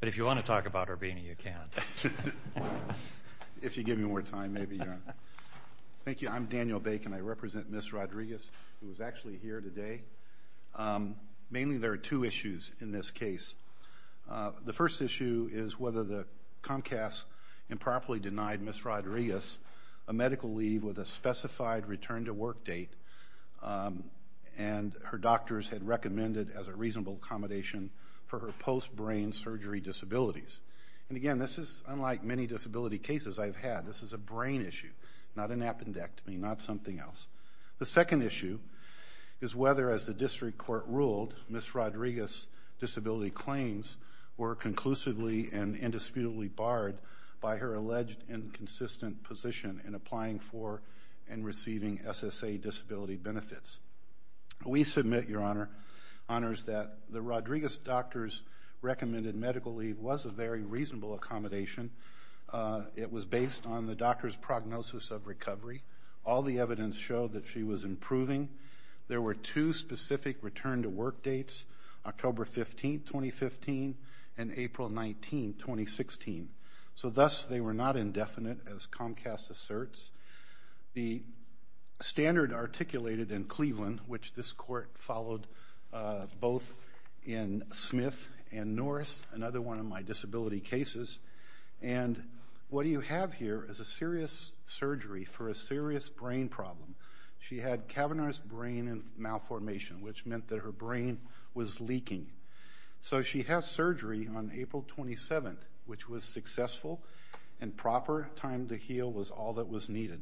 But if you want to talk about Urbini, you can. If you give me more time, maybe. Thank you. I'm Daniel Bake, and I represent Ms. Rodriguez, who is actually here today. Mainly there are two issues in this case. The first issue is whether the Comcast improperly denied Ms. Rodriguez a medical leave with a specified return-to-work date, and her doctors had recommended as a reasonable accommodation for her post-brain surgery disabilities. And again, this is unlike many disability cases I've had. This is a brain issue, not an appendectomy, not something else. The second issue is whether, as the district court ruled, Ms. Rodriguez's disability claims were conclusively and indisputably barred by her alleged inconsistent position in applying for and receiving SSA disability benefits. We submit, Your Honor, that the Rodriguez doctor's recommended medical leave was a very reasonable accommodation. It was based on the doctor's prognosis of recovery. All the evidence showed that she was improving. There were two specific return-to-work dates, October 15, 2015, and April 19, 2016. So thus, they were not indefinite, as Comcast asserts. The standard articulated in Cleveland, which this court followed both in Smith and Norris, another one of my disability cases, and what you have here is a serious surgery for a serious brain problem. She had cavernous brain malformation, which meant that her brain was leaking. So she had surgery on April 27, which was successful, and proper time to heal was all that was needed.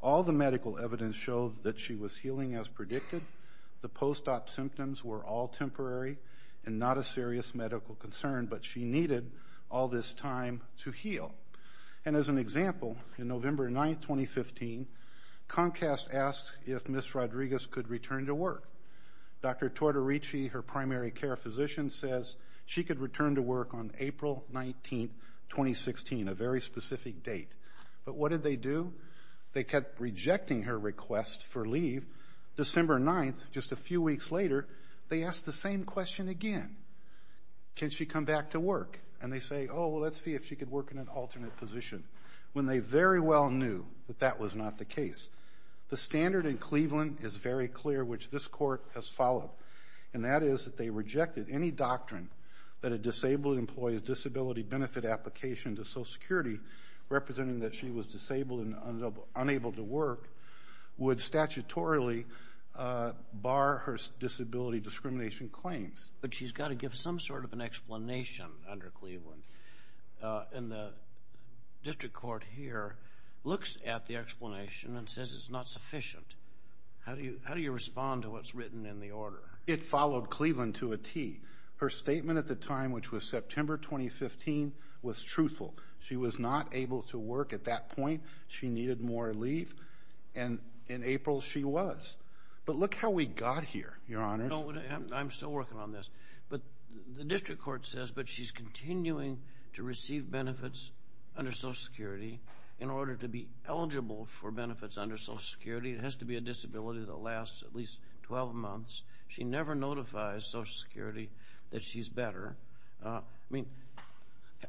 All the medical evidence showed that she was healing as predicted. The post-op symptoms were all temporary and not a serious medical concern, but she needed all this time to heal. And as an example, on November 9, 2015, Comcast asked if Ms. Rodriguez could return to work. Dr. Tortorici, her primary care physician, says she could return to work on April 19, 2016, a very specific date. But what did they do? They kept rejecting her request for leave. December 9, just a few weeks later, they asked the same question again. Can she come back to work? And they say, oh, let's see if she could work in an alternate position, when they very well knew that that was not the case. The standard in Cleveland is very clear, which this court has followed, and that is that they rejected any doctrine that a disabled employee's disability benefit application to Social Security, representing that she was disabled and unable to work, would statutorily bar her disability discrimination claims. But she's got to give some sort of an explanation under Cleveland. And the district court here looks at the explanation and says it's not sufficient. How do you respond to what's written in the order? It followed Cleveland to a T. Her statement at the time, which was September 2015, was truthful. She was not able to work at that point. She needed more leave, and in April she was. But look how we got here, Your Honors. I'm still working on this. But the district court says, but she's continuing to receive benefits under Social Security in order to be eligible for benefits under Social Security. It has to be a disability that lasts at least 12 months. She never notifies Social Security that she's better. I mean,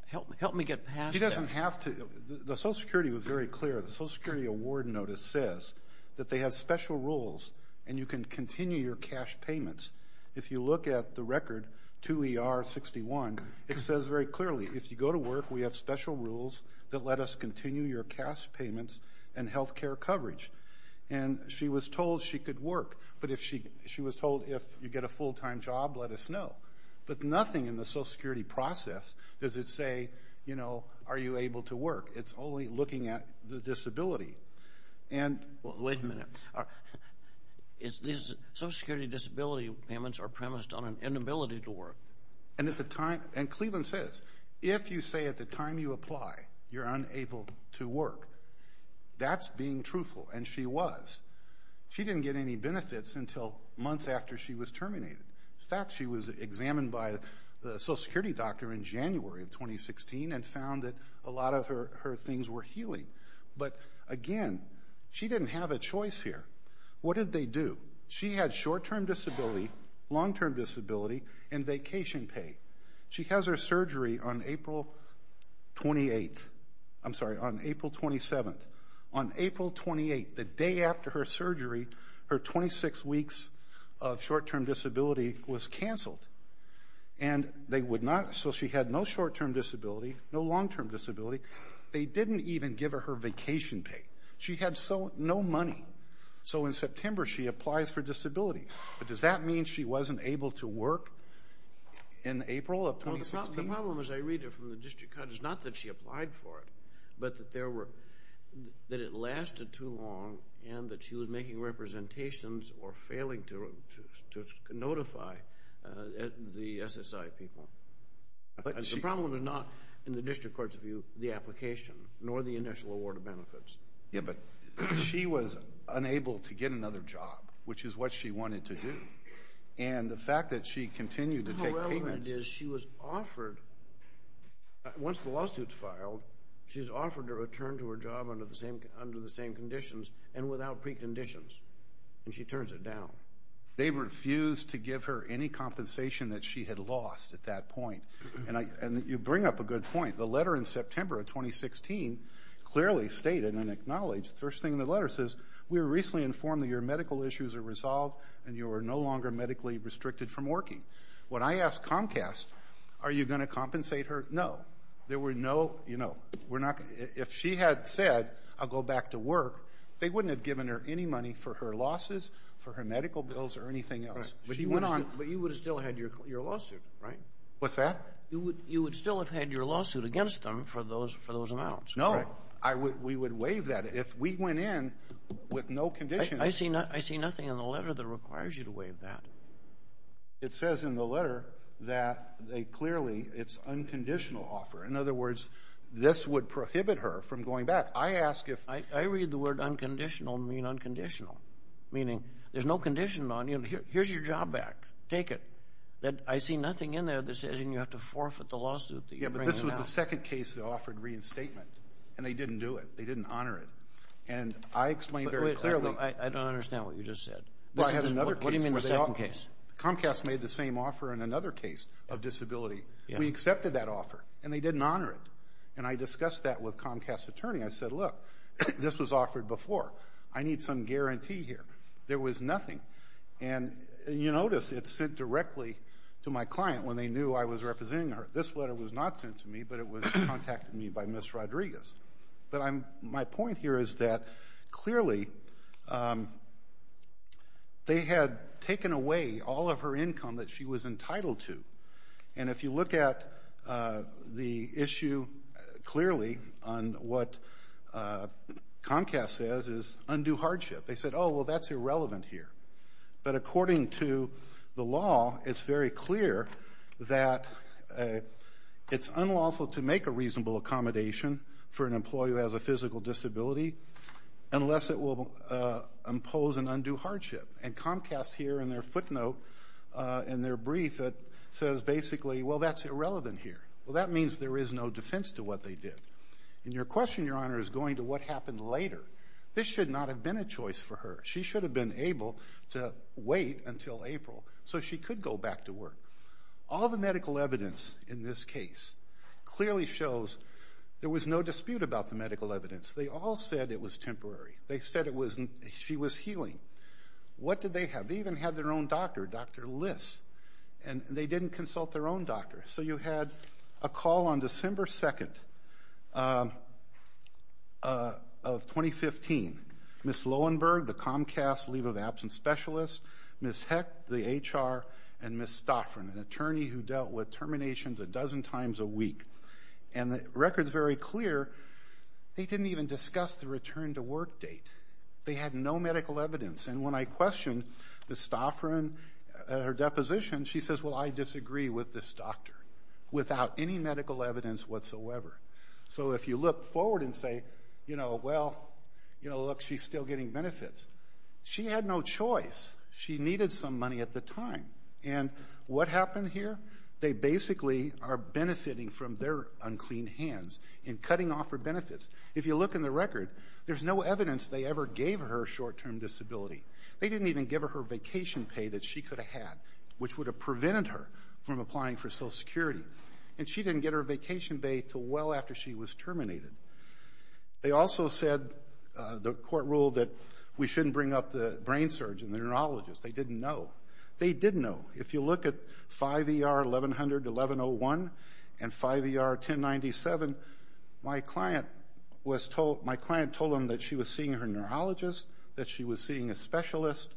help me get past that. She doesn't have to. The Social Security was very clear. The Social Security award notice says that they have special rules, and you can continue your cash payments. If you look at the record, 2ER61, it says very clearly, if you go to work, we have special rules that let us continue your cash payments and health care coverage. And she was told she could work, but she was told if you get a full-time job, let us know. But nothing in the Social Security process does it say, you know, are you able to work. It's only looking at the disability. Wait a minute. Social Security disability payments are premised on an inability to work. And Cleveland says, if you say at the time you apply you're unable to work, that's being truthful, and she was. She didn't get any benefits until months after she was terminated. In fact, she was examined by the Social Security doctor in January of 2016 and found that a lot of her things were healing. But, again, she didn't have a choice here. What did they do? She had short-term disability, long-term disability, and vacation pay. She has her surgery on April 28th. I'm sorry, on April 27th. On April 28th, the day after her surgery, her 26 weeks of short-term disability was canceled. And they would not, so she had no short-term disability, no long-term disability. They didn't even give her her vacation pay. She had no money. So in September she applies for disability. But does that mean she wasn't able to work in April of 2016? The problem, as I read it from the district court, is not that she applied for it, but that it lasted too long and that she was making representations or failing to notify the SSI people. The problem is not, in the district court's view, the application, nor the initial award of benefits. Yeah, but she was unable to get another job, which is what she wanted to do. And the fact that she continued to take payments— How relevant it is, she was offered, once the lawsuit's filed, she's offered to return to her job under the same conditions and without preconditions. And she turns it down. They refused to give her any compensation that she had lost at that point. And you bring up a good point. The letter in September of 2016 clearly stated and acknowledged, the first thing in the letter says, we were recently informed that your medical issues are resolved and you are no longer medically restricted from working. When I asked Comcast, are you going to compensate her? No. There were no, you know, if she had said, I'll go back to work, they wouldn't have given her any money for her losses, for her medical bills, or anything else. But you would have still had your lawsuit, right? What's that? You would still have had your lawsuit against them for those amounts. No. We would waive that. If we went in with no conditions— I see nothing in the letter that requires you to waive that. It says in the letter that they clearly, it's unconditional offer. In other words, this would prohibit her from going back. I read the word unconditional and mean unconditional, meaning there's no condition on you. Here's your job back. Take it. I see nothing in there that says you have to forfeit the lawsuit that you're bringing out. Yeah, but this was the second case that offered reinstatement, and they didn't do it. They didn't honor it. And I explained very clearly— I don't understand what you just said. What do you mean the second case? Comcast made the same offer in another case of disability. We accepted that offer, and they didn't honor it. And I discussed that with Comcast's attorney. I said, look, this was offered before. I need some guarantee here. There was nothing. And you notice it's sent directly to my client when they knew I was representing her. This letter was not sent to me, but it was contacted to me by Ms. Rodriguez. But my point here is that, clearly, they had taken away all of her income that she was entitled to. And if you look at the issue clearly on what Comcast says is undue hardship, they said, oh, well, that's irrelevant here. But according to the law, it's very clear that it's unlawful to make a reasonable accommodation for an employee who has a physical disability unless it will impose an undue hardship. And Comcast here in their footnote, in their brief, says basically, well, that's irrelevant here. Well, that means there is no defense to what they did. And your question, Your Honor, is going to what happened later. This should not have been a choice for her. She should have been able to wait until April so she could go back to work. All the medical evidence in this case clearly shows there was no dispute about the medical evidence. They all said it was temporary. They said she was healing. What did they have? They even had their own doctor, Dr. Liss, and they didn't consult their own doctor. So you had a call on December 2nd of 2015, Ms. Loewenberg, the Comcast leave of absence specialist, Ms. Heck, the HR, and Ms. Stauffer, an attorney who dealt with terminations a dozen times a week. And the record is very clear. They didn't even discuss the return to work date. They had no medical evidence. And when I questioned Ms. Stauffer and her deposition, she says, well, I disagree with this doctor, without any medical evidence whatsoever. So if you look forward and say, you know, well, you know, look, she's still getting benefits. She had no choice. She needed some money at the time. And what happened here? They basically are benefiting from their unclean hands in cutting off her benefits. If you look in the record, there's no evidence they ever gave her a short-term disability. They didn't even give her her vacation pay that she could have had, which would have prevented her from applying for Social Security. And she didn't get her vacation pay until well after she was terminated. They also said, the court ruled that we shouldn't bring up the brain surgeon, the neurologist. They didn't know. They did know. If you look at 5ER 1100-1101 and 5ER 1097, my client told them that she was seeing her neurologist, that she was seeing a specialist,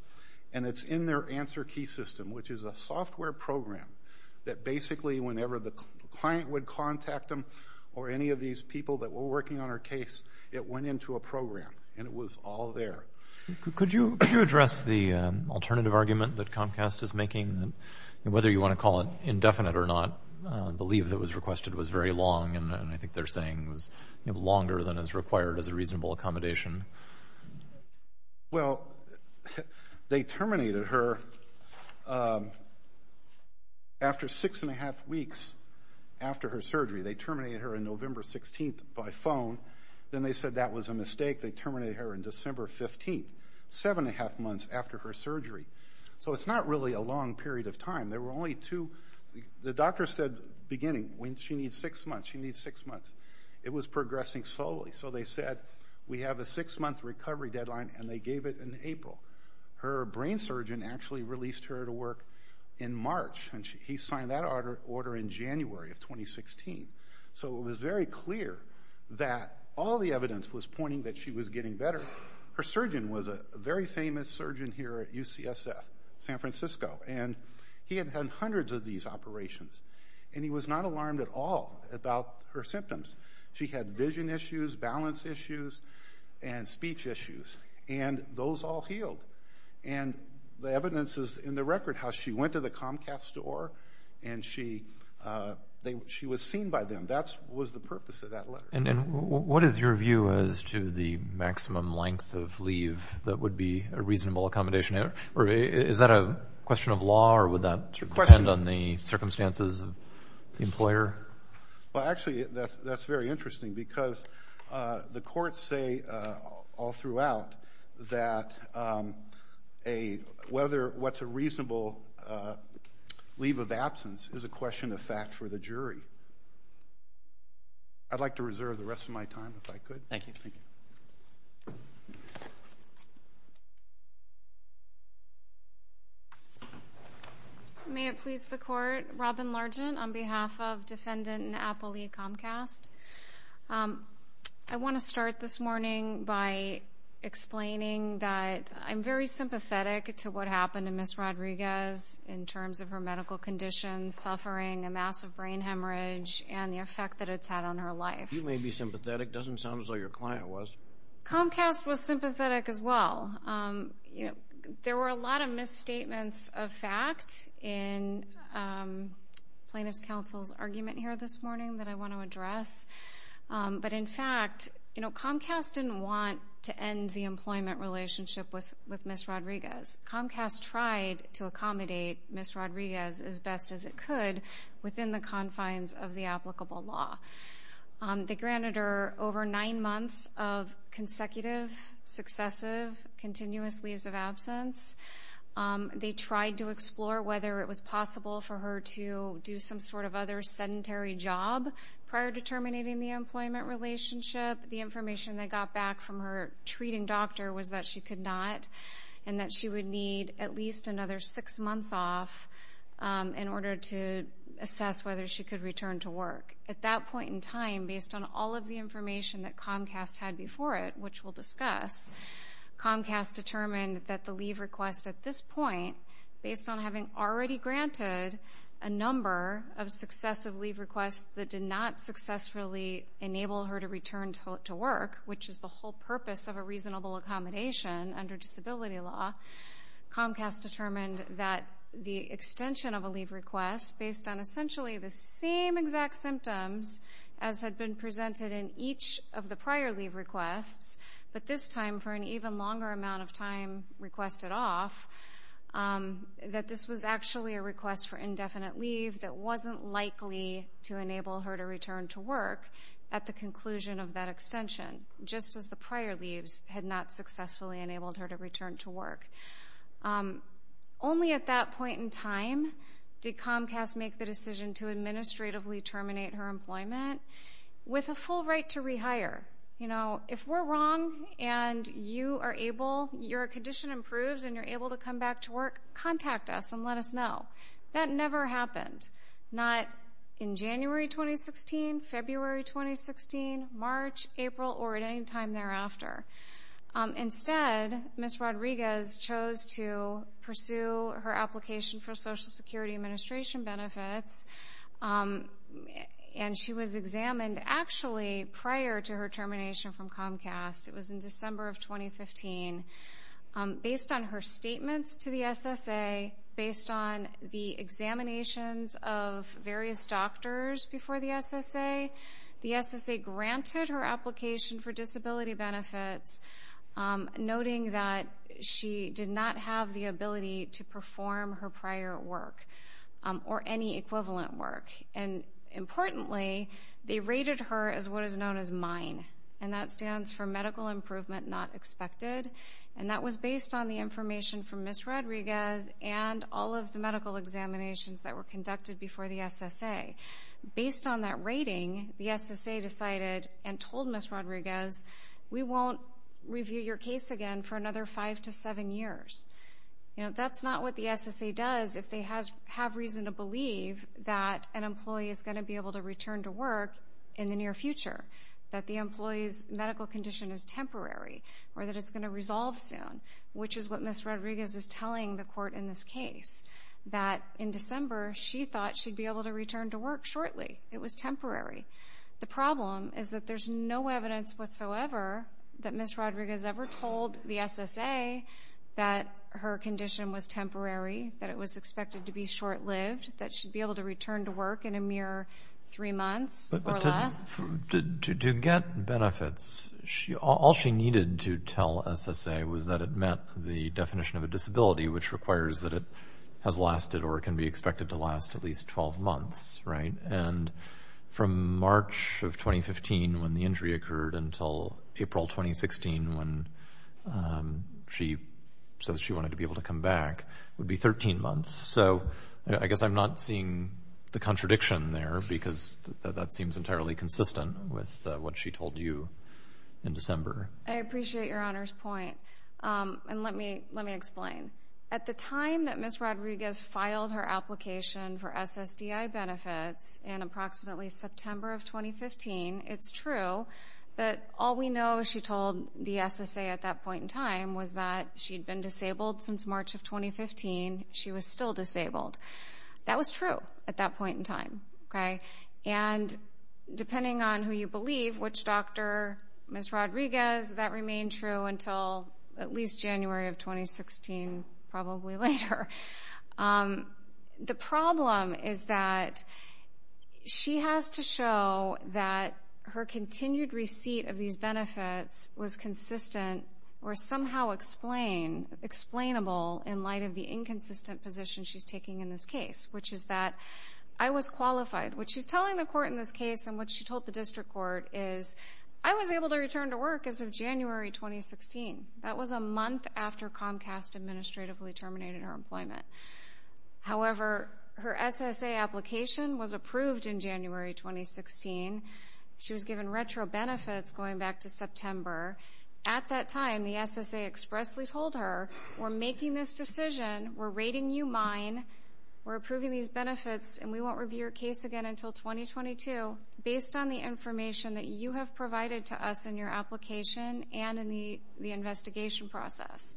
and it's in their answer key system, which is a software program that basically whenever the client would contact them or any of these people that were working on her case, it went into a program. And it was all there. Could you address the alternative argument that Comcast is making? Whether you want to call it indefinite or not, the leave that was requested was very long, and I think they're saying it was longer than is required as a reasonable accommodation. Well, they terminated her after six and a half weeks after her surgery. They terminated her on November 16th by phone. Then they said that was a mistake. They terminated her on December 15th, seven and a half months after her surgery. So it's not really a long period of time. There were only two. The doctor said beginning, when she needs six months, she needs six months. It was progressing slowly. So they said, we have a six-month recovery deadline, and they gave it in April. Her brain surgeon actually released her to work in March, and he signed that order in January of 2016. So it was very clear that all the evidence was pointing that she was getting better. Her surgeon was a very famous surgeon here at UCSF, San Francisco. And he had had hundreds of these operations, and he was not alarmed at all about her symptoms. She had vision issues, balance issues, and speech issues, and those all healed. And the evidence is in the record how she went to the Comcast store, and she was seen by them. That was the purpose of that letter. And what is your view as to the maximum length of leave that would be a reasonable accommodation? Is that a question of law, or would that depend on the circumstances of the employer? Well, actually, that's very interesting because the courts say all throughout that whether what's a reasonable leave of absence is a question of fact for the jury. I'd like to reserve the rest of my time if I could. Thank you. Thank you. May it please the Court? Robin Largent on behalf of Defendant Apple Lee Comcast. I want to start this morning by explaining that I'm very sympathetic to what happened to Ms. Rodriguez in terms of her medical conditions, suffering, a massive brain hemorrhage, and the effect that it's had on her life. You may be sympathetic. It doesn't sound as though your client was. Comcast was sympathetic as well. There were a lot of misstatements of fact in Plaintiff's Counsel's argument here this morning that I want to address. But in fact, Comcast didn't want to end the employment relationship with Ms. Rodriguez. Comcast tried to accommodate Ms. Rodriguez as best as it could within the confines of the applicable law. They granted her over nine months of consecutive, successive, continuous leaves of absence. They tried to explore whether it was possible for her to do some sort of other sedentary job prior to terminating the employment relationship. The information they got back from her treating doctor was that she could not and that she would need at least another six months off in order to assess whether she could return to work. At that point in time, based on all of the information that Comcast had before it, which we'll discuss, Comcast determined that the leave request at this point, based on having already granted a number of successive leave requests that did not successfully enable her to return to work, which is the whole purpose of a reasonable accommodation under disability law, Comcast determined that the extension of a leave request, based on essentially the same exact symptoms as had been presented in each of the prior leave requests, but this time for an even longer amount of time requested off, that this was actually a request for indefinite leave that wasn't likely to enable her to return to work at the conclusion of that extension, just as the prior leaves had not successfully enabled her to return to work. Only at that point in time did Comcast make the decision to administratively terminate her employment with a full right to rehire. If we're wrong and you are able, your condition improves and you're able to come back to work, contact us and let us know. That never happened, not in January 2016, February 2016, March, April, or at any time thereafter. Instead, Ms. Rodriguez chose to pursue her application for Social Security Administration benefits, and she was examined actually prior to her termination from Comcast. It was in December of 2015. Based on her statements to the SSA, based on the examinations of various doctors before the SSA, the SSA granted her application for disability benefits, noting that she did not have the ability to perform her prior work or any equivalent work. Importantly, they rated her as what is known as MINE, and that stands for Medical Improvement Not Expected, and that was based on the information from Ms. Rodriguez and all of the medical examinations that were conducted before the SSA. Based on that rating, the SSA decided and told Ms. Rodriguez, we won't review your case again for another five to seven years. That's not what the SSA does if they have reason to believe that an employee is going to be able to return to work in the near future, that the employee's medical condition is temporary, or that it's going to resolve soon, which is what Ms. Rodriguez is telling the court in this case, that in December she thought she'd be able to return to work shortly. It was temporary. The problem is that there's no evidence whatsoever that Ms. Rodriguez ever told the SSA that her condition was temporary, that it was expected to be short-lived, that she'd be able to return to work in a mere three months or less. To get benefits, all she needed to tell SSA was that it met the definition of a disability, which requires that it has lasted or can be expected to last at least 12 months. And from March of 2015, when the injury occurred, until April 2016, when she says she wanted to be able to come back, would be 13 months. So I guess I'm not seeing the contradiction there because that seems entirely consistent with what she told you in December. I appreciate Your Honor's point, and let me explain. At the time that Ms. Rodriguez filed her application for SSDI benefits in approximately September of 2015, it's true that all we know she told the SSA at that point in time was that she'd been disabled since March of 2015. She was still disabled. That was true at that point in time. And depending on who you believe, which doctor, Ms. Rodriguez, that remained true until at least January of 2016, probably later. The problem is that she has to show that her continued receipt of these benefits was consistent or somehow explainable in light of the inconsistent position she's taking in this case, which is that I was qualified. What she's telling the court in this case and what she told the district court is, I was able to return to work as of January 2016. That was a month after Comcast administratively terminated her employment. However, her SSA application was approved in January 2016. She was given retro benefits going back to September. At that time, the SSA expressly told her, we're making this decision, we're rating you mine, we're approving these benefits, and we won't review your case again until 2022, based on the information that you have provided to us in your application and in the investigation process.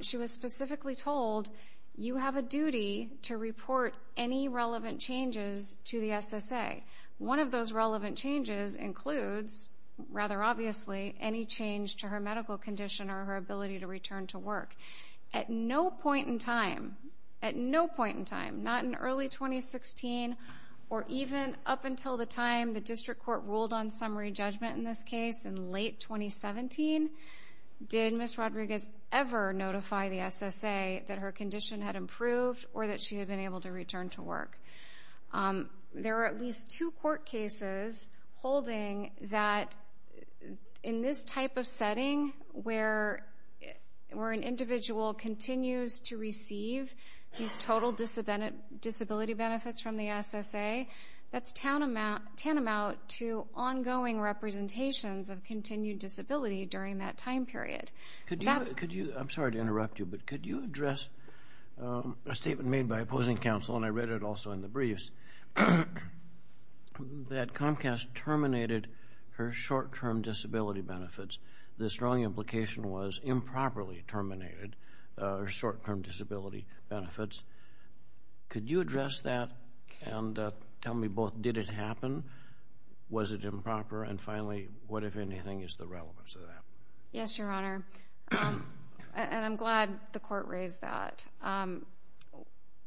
She was specifically told, you have a duty to report any relevant changes to the SSA. One of those relevant changes includes, rather obviously, any change to her medical condition or her ability to return to work. At no point in time, at no point in time, not in early 2016, or even up until the time the district court ruled on summary judgment in this case in late 2017, did Ms. Rodriguez ever notify the SSA that her condition had improved or that she had been able to return to work. There are at least two court cases holding that, in this type of setting, where an individual continues to receive these total disability benefits from the SSA, that's tantamount to ongoing representations of continued disability during that time period. I'm sorry to interrupt you, but could you address a statement made by opposing counsel, and I read it also in the briefs, that Comcast terminated her short-term disability benefits. The strong implication was improperly terminated her short-term disability benefits. Could you address that and tell me both, did it happen? Was it improper? And finally, what, if anything, is the relevance of that? Yes, Your Honor, and I'm glad the court raised that.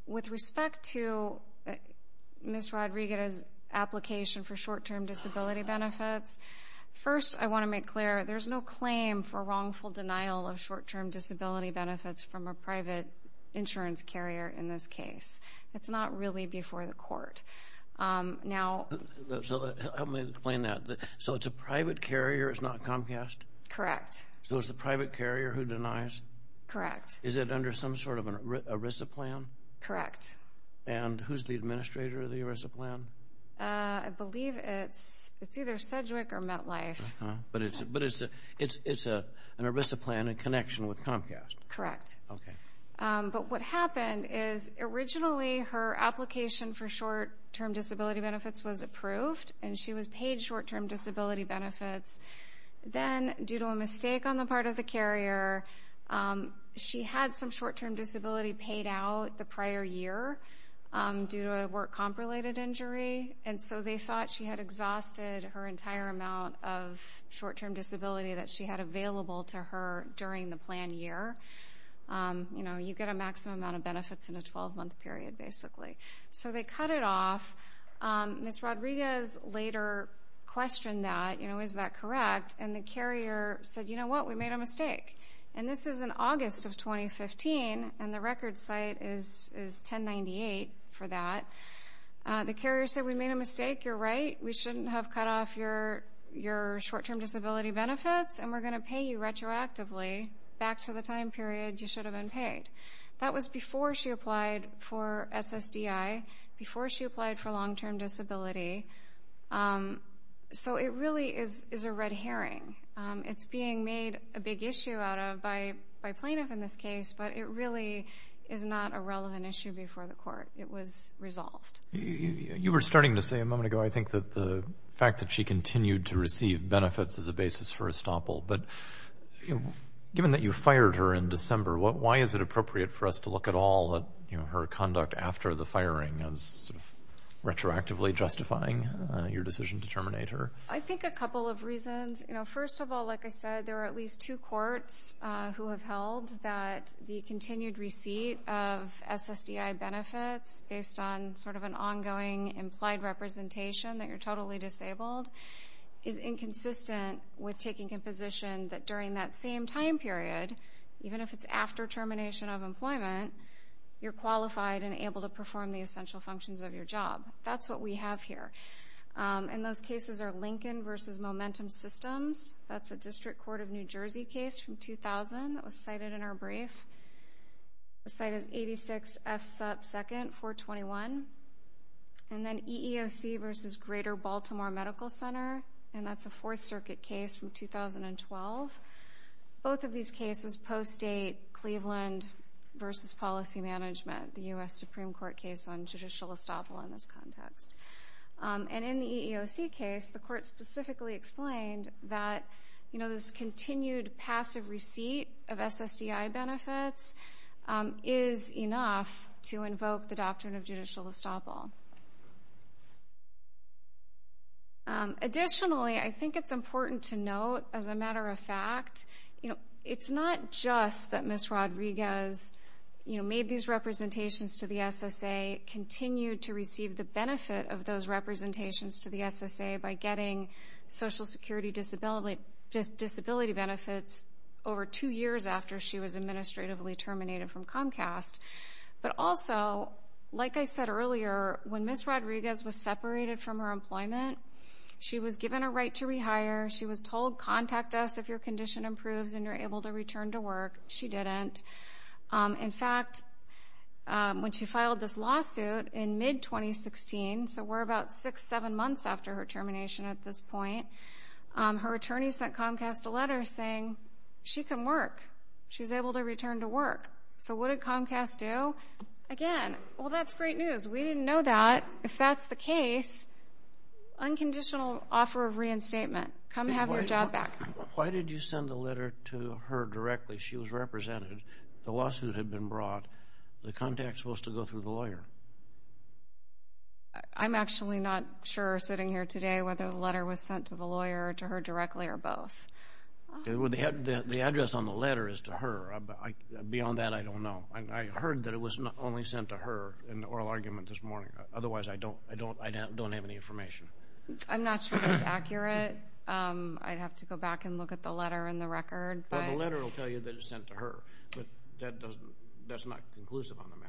With respect to Ms. Rodriguez's application for short-term disability benefits, first I want to make clear there's no claim for wrongful denial of short-term disability benefits from a private insurance carrier in this case. It's not really before the court. So help me explain that. So it's a private carrier, it's not Comcast? Correct. So it's the private carrier who denies? Correct. Is it under some sort of an ERISA plan? Correct. And who's the administrator of the ERISA plan? I believe it's either Cedric or MetLife. But it's an ERISA plan in connection with Comcast? Correct. Okay. But what happened is originally her application for short-term disability benefits was approved, and she was paid short-term disability benefits. Then, due to a mistake on the part of the carrier, she had some short-term disability paid out the prior year due to a work comp-related injury, and so they thought she had exhausted her entire amount of short-term disability that she had available to her during the planned year. You know, you get a maximum amount of benefits in a 12-month period, basically. So they cut it off. Ms. Rodriguez later questioned that, you know, is that correct? And the carrier said, you know what, we made a mistake. And this is in August of 2015, and the record site is 1098 for that. The carrier said, we made a mistake, you're right, we shouldn't have cut off your short-term disability benefits, and we're going to pay you retroactively back to the time period you should have been paid. That was before she applied for SSDI, before she applied for long-term disability. So it really is a red herring. It's being made a big issue out of by plaintiff in this case, but it really is not a relevant issue before the court. It was resolved. You were starting to say a moment ago, I think, that the fact that she continued to receive benefits as a basis for estoppel, but given that you fired her in December, why is it appropriate for us to look at all her conduct after the firing as sort of retroactively justifying your decision to terminate her? I think a couple of reasons. First of all, like I said, there are at least two courts who have held that the continued receipt of SSDI benefits, based on sort of an ongoing implied representation that you're totally disabled, is inconsistent with taking a position that during that same time period, even if it's after termination of employment, you're qualified and able to perform the essential functions of your job. That's what we have here. And those cases are Lincoln v. Momentum Systems. That's a District Court of New Jersey case from 2000 that was cited in our brief. The site is 86 F. Supp. 2nd, 421. And then EEOC v. Greater Baltimore Medical Center, and that's a Fourth Circuit case from 2012. Both of these cases post-date Cleveland v. Policy Management, the U.S. Supreme Court case on judicial estoppel in this context. And in the EEOC case, the court specifically explained that, you know, this continued passive receipt of SSDI benefits is enough to invoke the doctrine of judicial estoppel. Additionally, I think it's important to note, as a matter of fact, you know, it's not just that Ms. Rodriguez, you know, made these representations to the SSA, continued to receive the benefit of those representations to the SSA by getting Social Security disability benefits over two years after she was administratively terminated from Comcast. But also, like I said earlier, when Ms. Rodriguez was separated from her employment, she was given a right to rehire. She was told, contact us if your condition improves and you're able to return to work. She didn't. In fact, when she filed this lawsuit in mid-2016, so we're about six, seven months after her termination at this point, her attorney sent Comcast a letter saying she can work. She's able to return to work. So what did Comcast do? Again, well, that's great news. We didn't know that. If that's the case, unconditional offer of reinstatement. Come have your job back. Why did you send the letter to her directly? She was represented. The lawsuit had been brought. The contact is supposed to go through the lawyer. I'm actually not sure, sitting here today, whether the letter was sent to the lawyer or to her directly or both. The address on the letter is to her. Beyond that, I don't know. I heard that it was only sent to her in the oral argument this morning. Otherwise, I don't have any information. I'm not sure that's accurate. I'd have to go back and look at the letter and the record. Well, the letter will tell you that it was sent to her. But that's not conclusive on the matter.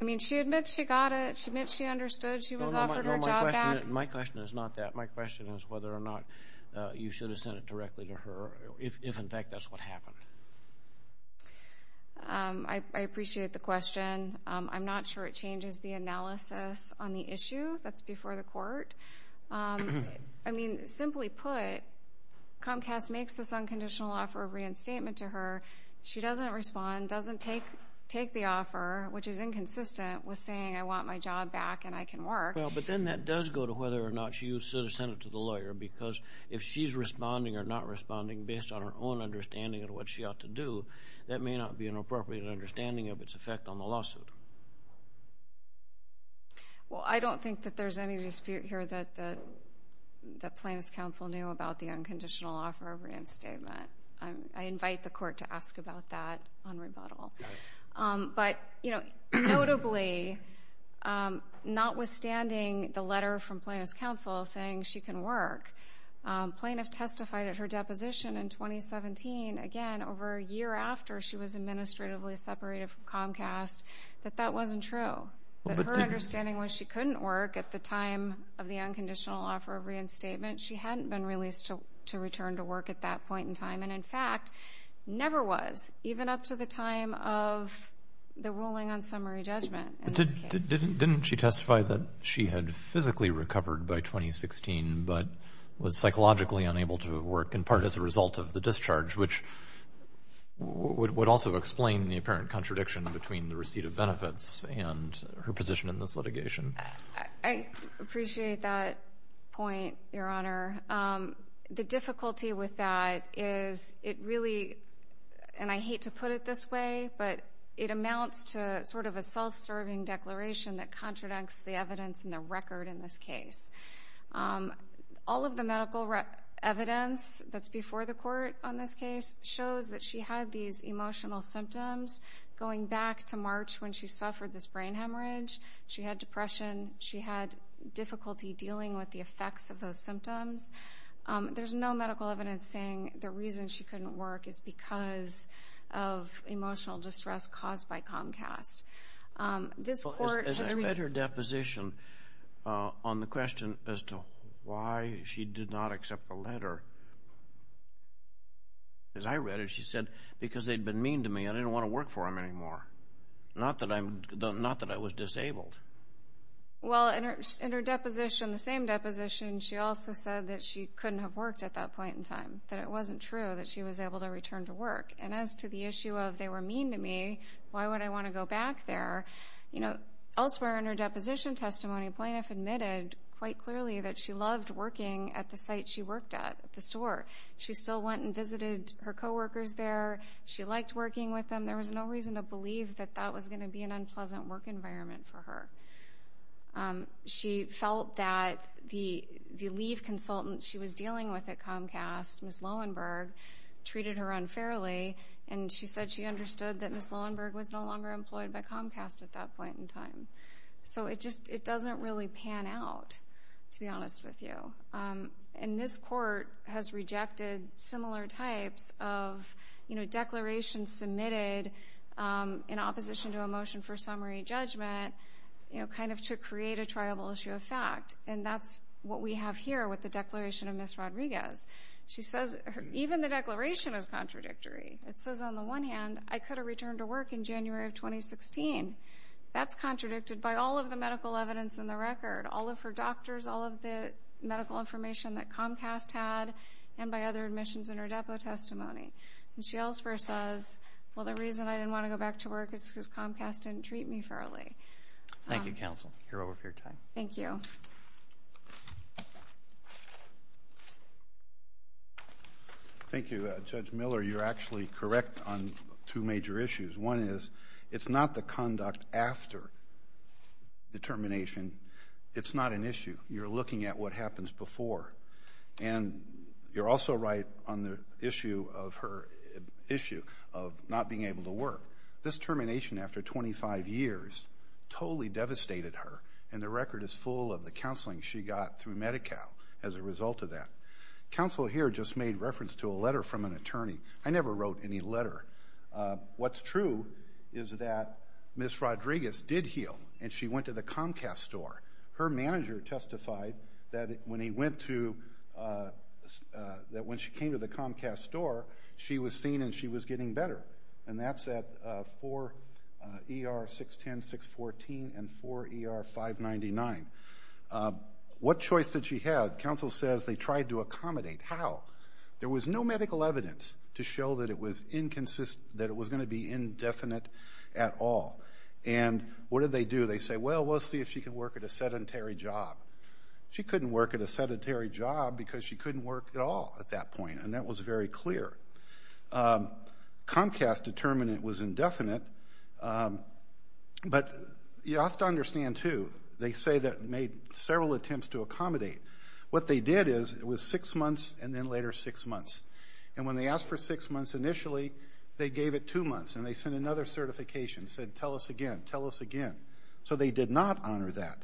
I mean, she admits she got it. She admits she understood she was offered her job back. My question is not that. My question is whether or not you should have sent it directly to her, if, in fact, that's what happened. I appreciate the question. I'm not sure it changes the analysis on the issue. That's before the court. I mean, simply put, Comcast makes this unconditional offer of reinstatement to her. She doesn't respond, doesn't take the offer, which is inconsistent with saying I want my job back and I can work. If she's responding or not responding based on her own understanding of what she ought to do, that may not be an appropriate understanding of its effect on the lawsuit. Well, I don't think that there's any dispute here that Plaintiff's counsel knew about the unconditional offer of reinstatement. I invite the court to ask about that on rebuttal. But, you know, notably, notwithstanding the letter from Plaintiff's counsel saying she can work, Plaintiff testified at her deposition in 2017, again, over a year after she was administratively separated from Comcast, that that wasn't true, that her understanding was she couldn't work at the time of the unconditional offer of reinstatement. She hadn't been released to return to work at that point in time, and, in fact, never was, even up to the time of the ruling on summary judgment. Didn't she testify that she had physically recovered by 2016 but was psychologically unable to work, in part as a result of the discharge, which would also explain the apparent contradiction between the receipt of benefits and her position in this litigation? I appreciate that point, Your Honor. The difficulty with that is it really, and I hate to put it this way, but it amounts to sort of a self-serving declaration that contradicts the evidence and the record in this case. All of the medical evidence that's before the court on this case shows that she had these emotional symptoms going back to March when she suffered this brain hemorrhage. She had depression. She had difficulty dealing with the effects of those symptoms. There's no medical evidence saying the reason she couldn't work is because of emotional distress caused by Comcast. As I read her deposition on the question as to why she did not accept the letter, as I read it, she said, because they'd been mean to me and I didn't want to work for them anymore, not that I was disabled. Well, in her deposition, the same deposition, she also said that she couldn't have worked at that point in time, that it wasn't true that she was able to return to work. And as to the issue of they were mean to me, why would I want to go back there? Elsewhere in her deposition testimony, plaintiff admitted quite clearly that she loved working at the site she worked at, at the store. She still went and visited her coworkers there. She liked working with them. There was no reason to believe that that was going to be an unpleasant work environment for her. She felt that the leave consultant she was dealing with at Comcast, Ms. Loewenberg, treated her unfairly, and she said she understood that Ms. Loewenberg was no longer employed by Comcast at that point in time. So it doesn't really pan out, to be honest with you. And this court has rejected similar types of declarations submitted in opposition to a motion for summary judgment, kind of to create a triable issue of fact, and that's what we have here with the declaration of Ms. Rodriguez. She says even the declaration is contradictory. It says on the one hand, I could have returned to work in January of 2016. That's contradicted by all of the medical evidence in the record, all of her doctors, all of the medical information that Comcast had, and by other admissions in her depo testimony. And she elsewhere says, well, the reason I didn't want to go back to work is because Comcast didn't treat me fairly. Thank you, counsel. You're over for your time. Thank you. Thank you, Judge Miller. You're actually correct on two major issues. One is it's not the conduct after the termination. It's not an issue. You're looking at what happens before. And you're also right on the issue of her not being able to work. This termination after 25 years totally devastated her, and the record is full of the counseling she got through Medi-Cal as a result of that. Counsel here just made reference to a letter from an attorney. I never wrote any letter. What's true is that Ms. Rodriguez did heal, and she went to the Comcast store. Her manager testified that when she came to the Comcast store, she was seen and she was getting better, and that's at 4ER-610-614 and 4ER-599. What choice did she have? Counsel says they tried to accommodate. How? There was no medical evidence to show that it was going to be indefinite at all. And what did they do? They say, well, we'll see if she can work at a sedentary job. She couldn't work at a sedentary job because she couldn't work at all at that point, and that was very clear. Comcast determined it was indefinite, but you have to understand, too, they say that made several attempts to accommodate. What they did is it was six months and then later six months. And when they asked for six months initially, they gave it two months, and they sent another certification, said, tell us again, tell us again. So they did not honor that.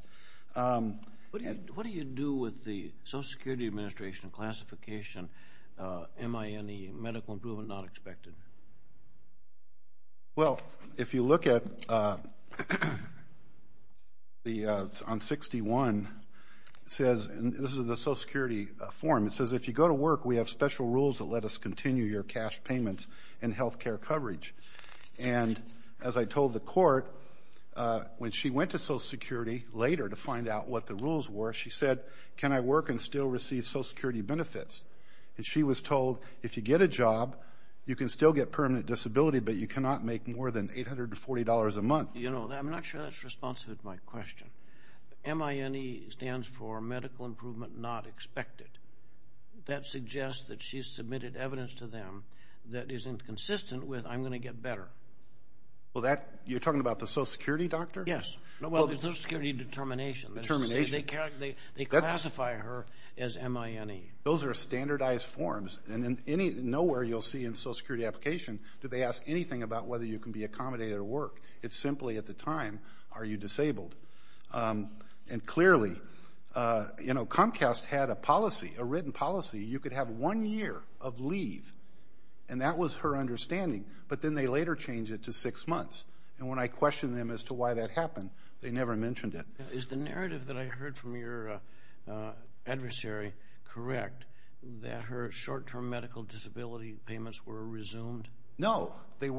What do you do with the Social Security Administration classification? Am I in the medical improvement not expected? Well, if you look on 61, this is the Social Security form. It says, if you go to work, we have special rules that let us continue your cash payments and health care coverage. And as I told the court, when she went to Social Security later to find out what the rules were, she said, can I work and still receive Social Security benefits? And she was told, if you get a job, you can still get permanent disability, but you cannot make more than $840 a month. You know, I'm not sure that's responsive to my question. MINE stands for medical improvement not expected. That suggests that she's submitted evidence to them that is inconsistent with I'm going to get better. Well, you're talking about the Social Security doctor? Yes. Well, the Social Security determination. Determination. They classify her as M-I-N-E. Those are standardized forms. And nowhere you'll see in Social Security application do they ask anything about whether you can be accommodated or work. It's simply at the time, are you disabled? And clearly, you know, Comcast had a policy, a written policy. You could have one year of leave. And that was her understanding. But then they later changed it to six months. And when I questioned them as to why that happened, they never mentioned it. Is the narrative that I heard from your adversary correct, that her short-term medical disability payments were resumed? No, they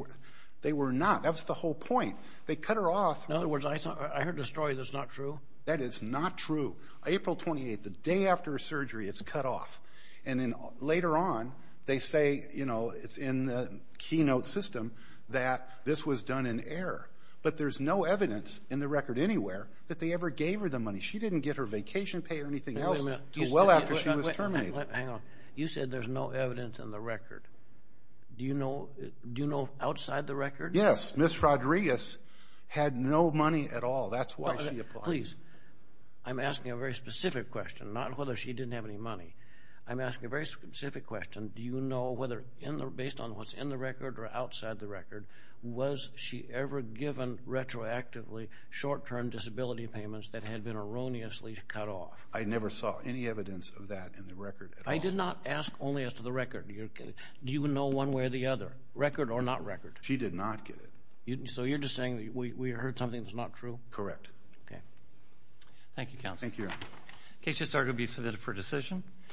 were not. That was the whole point. They cut her off. In other words, I heard the story that's not true? That is not true. April 28th, the day after her surgery, it's cut off. And then later on, they say, you know, it's in the keynote system that this was done in error. But there's no evidence in the record anywhere that they ever gave her the money. She didn't get her vacation pay or anything else until well after she was terminated. Hang on. You said there's no evidence in the record. Do you know outside the record? Yes. Ms. Rodriguez had no money at all. That's why she applied. Please, I'm asking a very specific question, not whether she didn't have any money. I'm asking a very specific question. Do you know whether based on what's in the record or outside the record, was she ever given retroactively short-term disability payments that had been erroneously cut off? I never saw any evidence of that in the record at all. I did not ask only as to the record. Do you know one way or the other, record or not record? She did not get it. So you're just saying we heard something that's not true? Correct. Okay. Thank you, Counsel. Thank you, Your Honor. The case has started to be submitted for decision.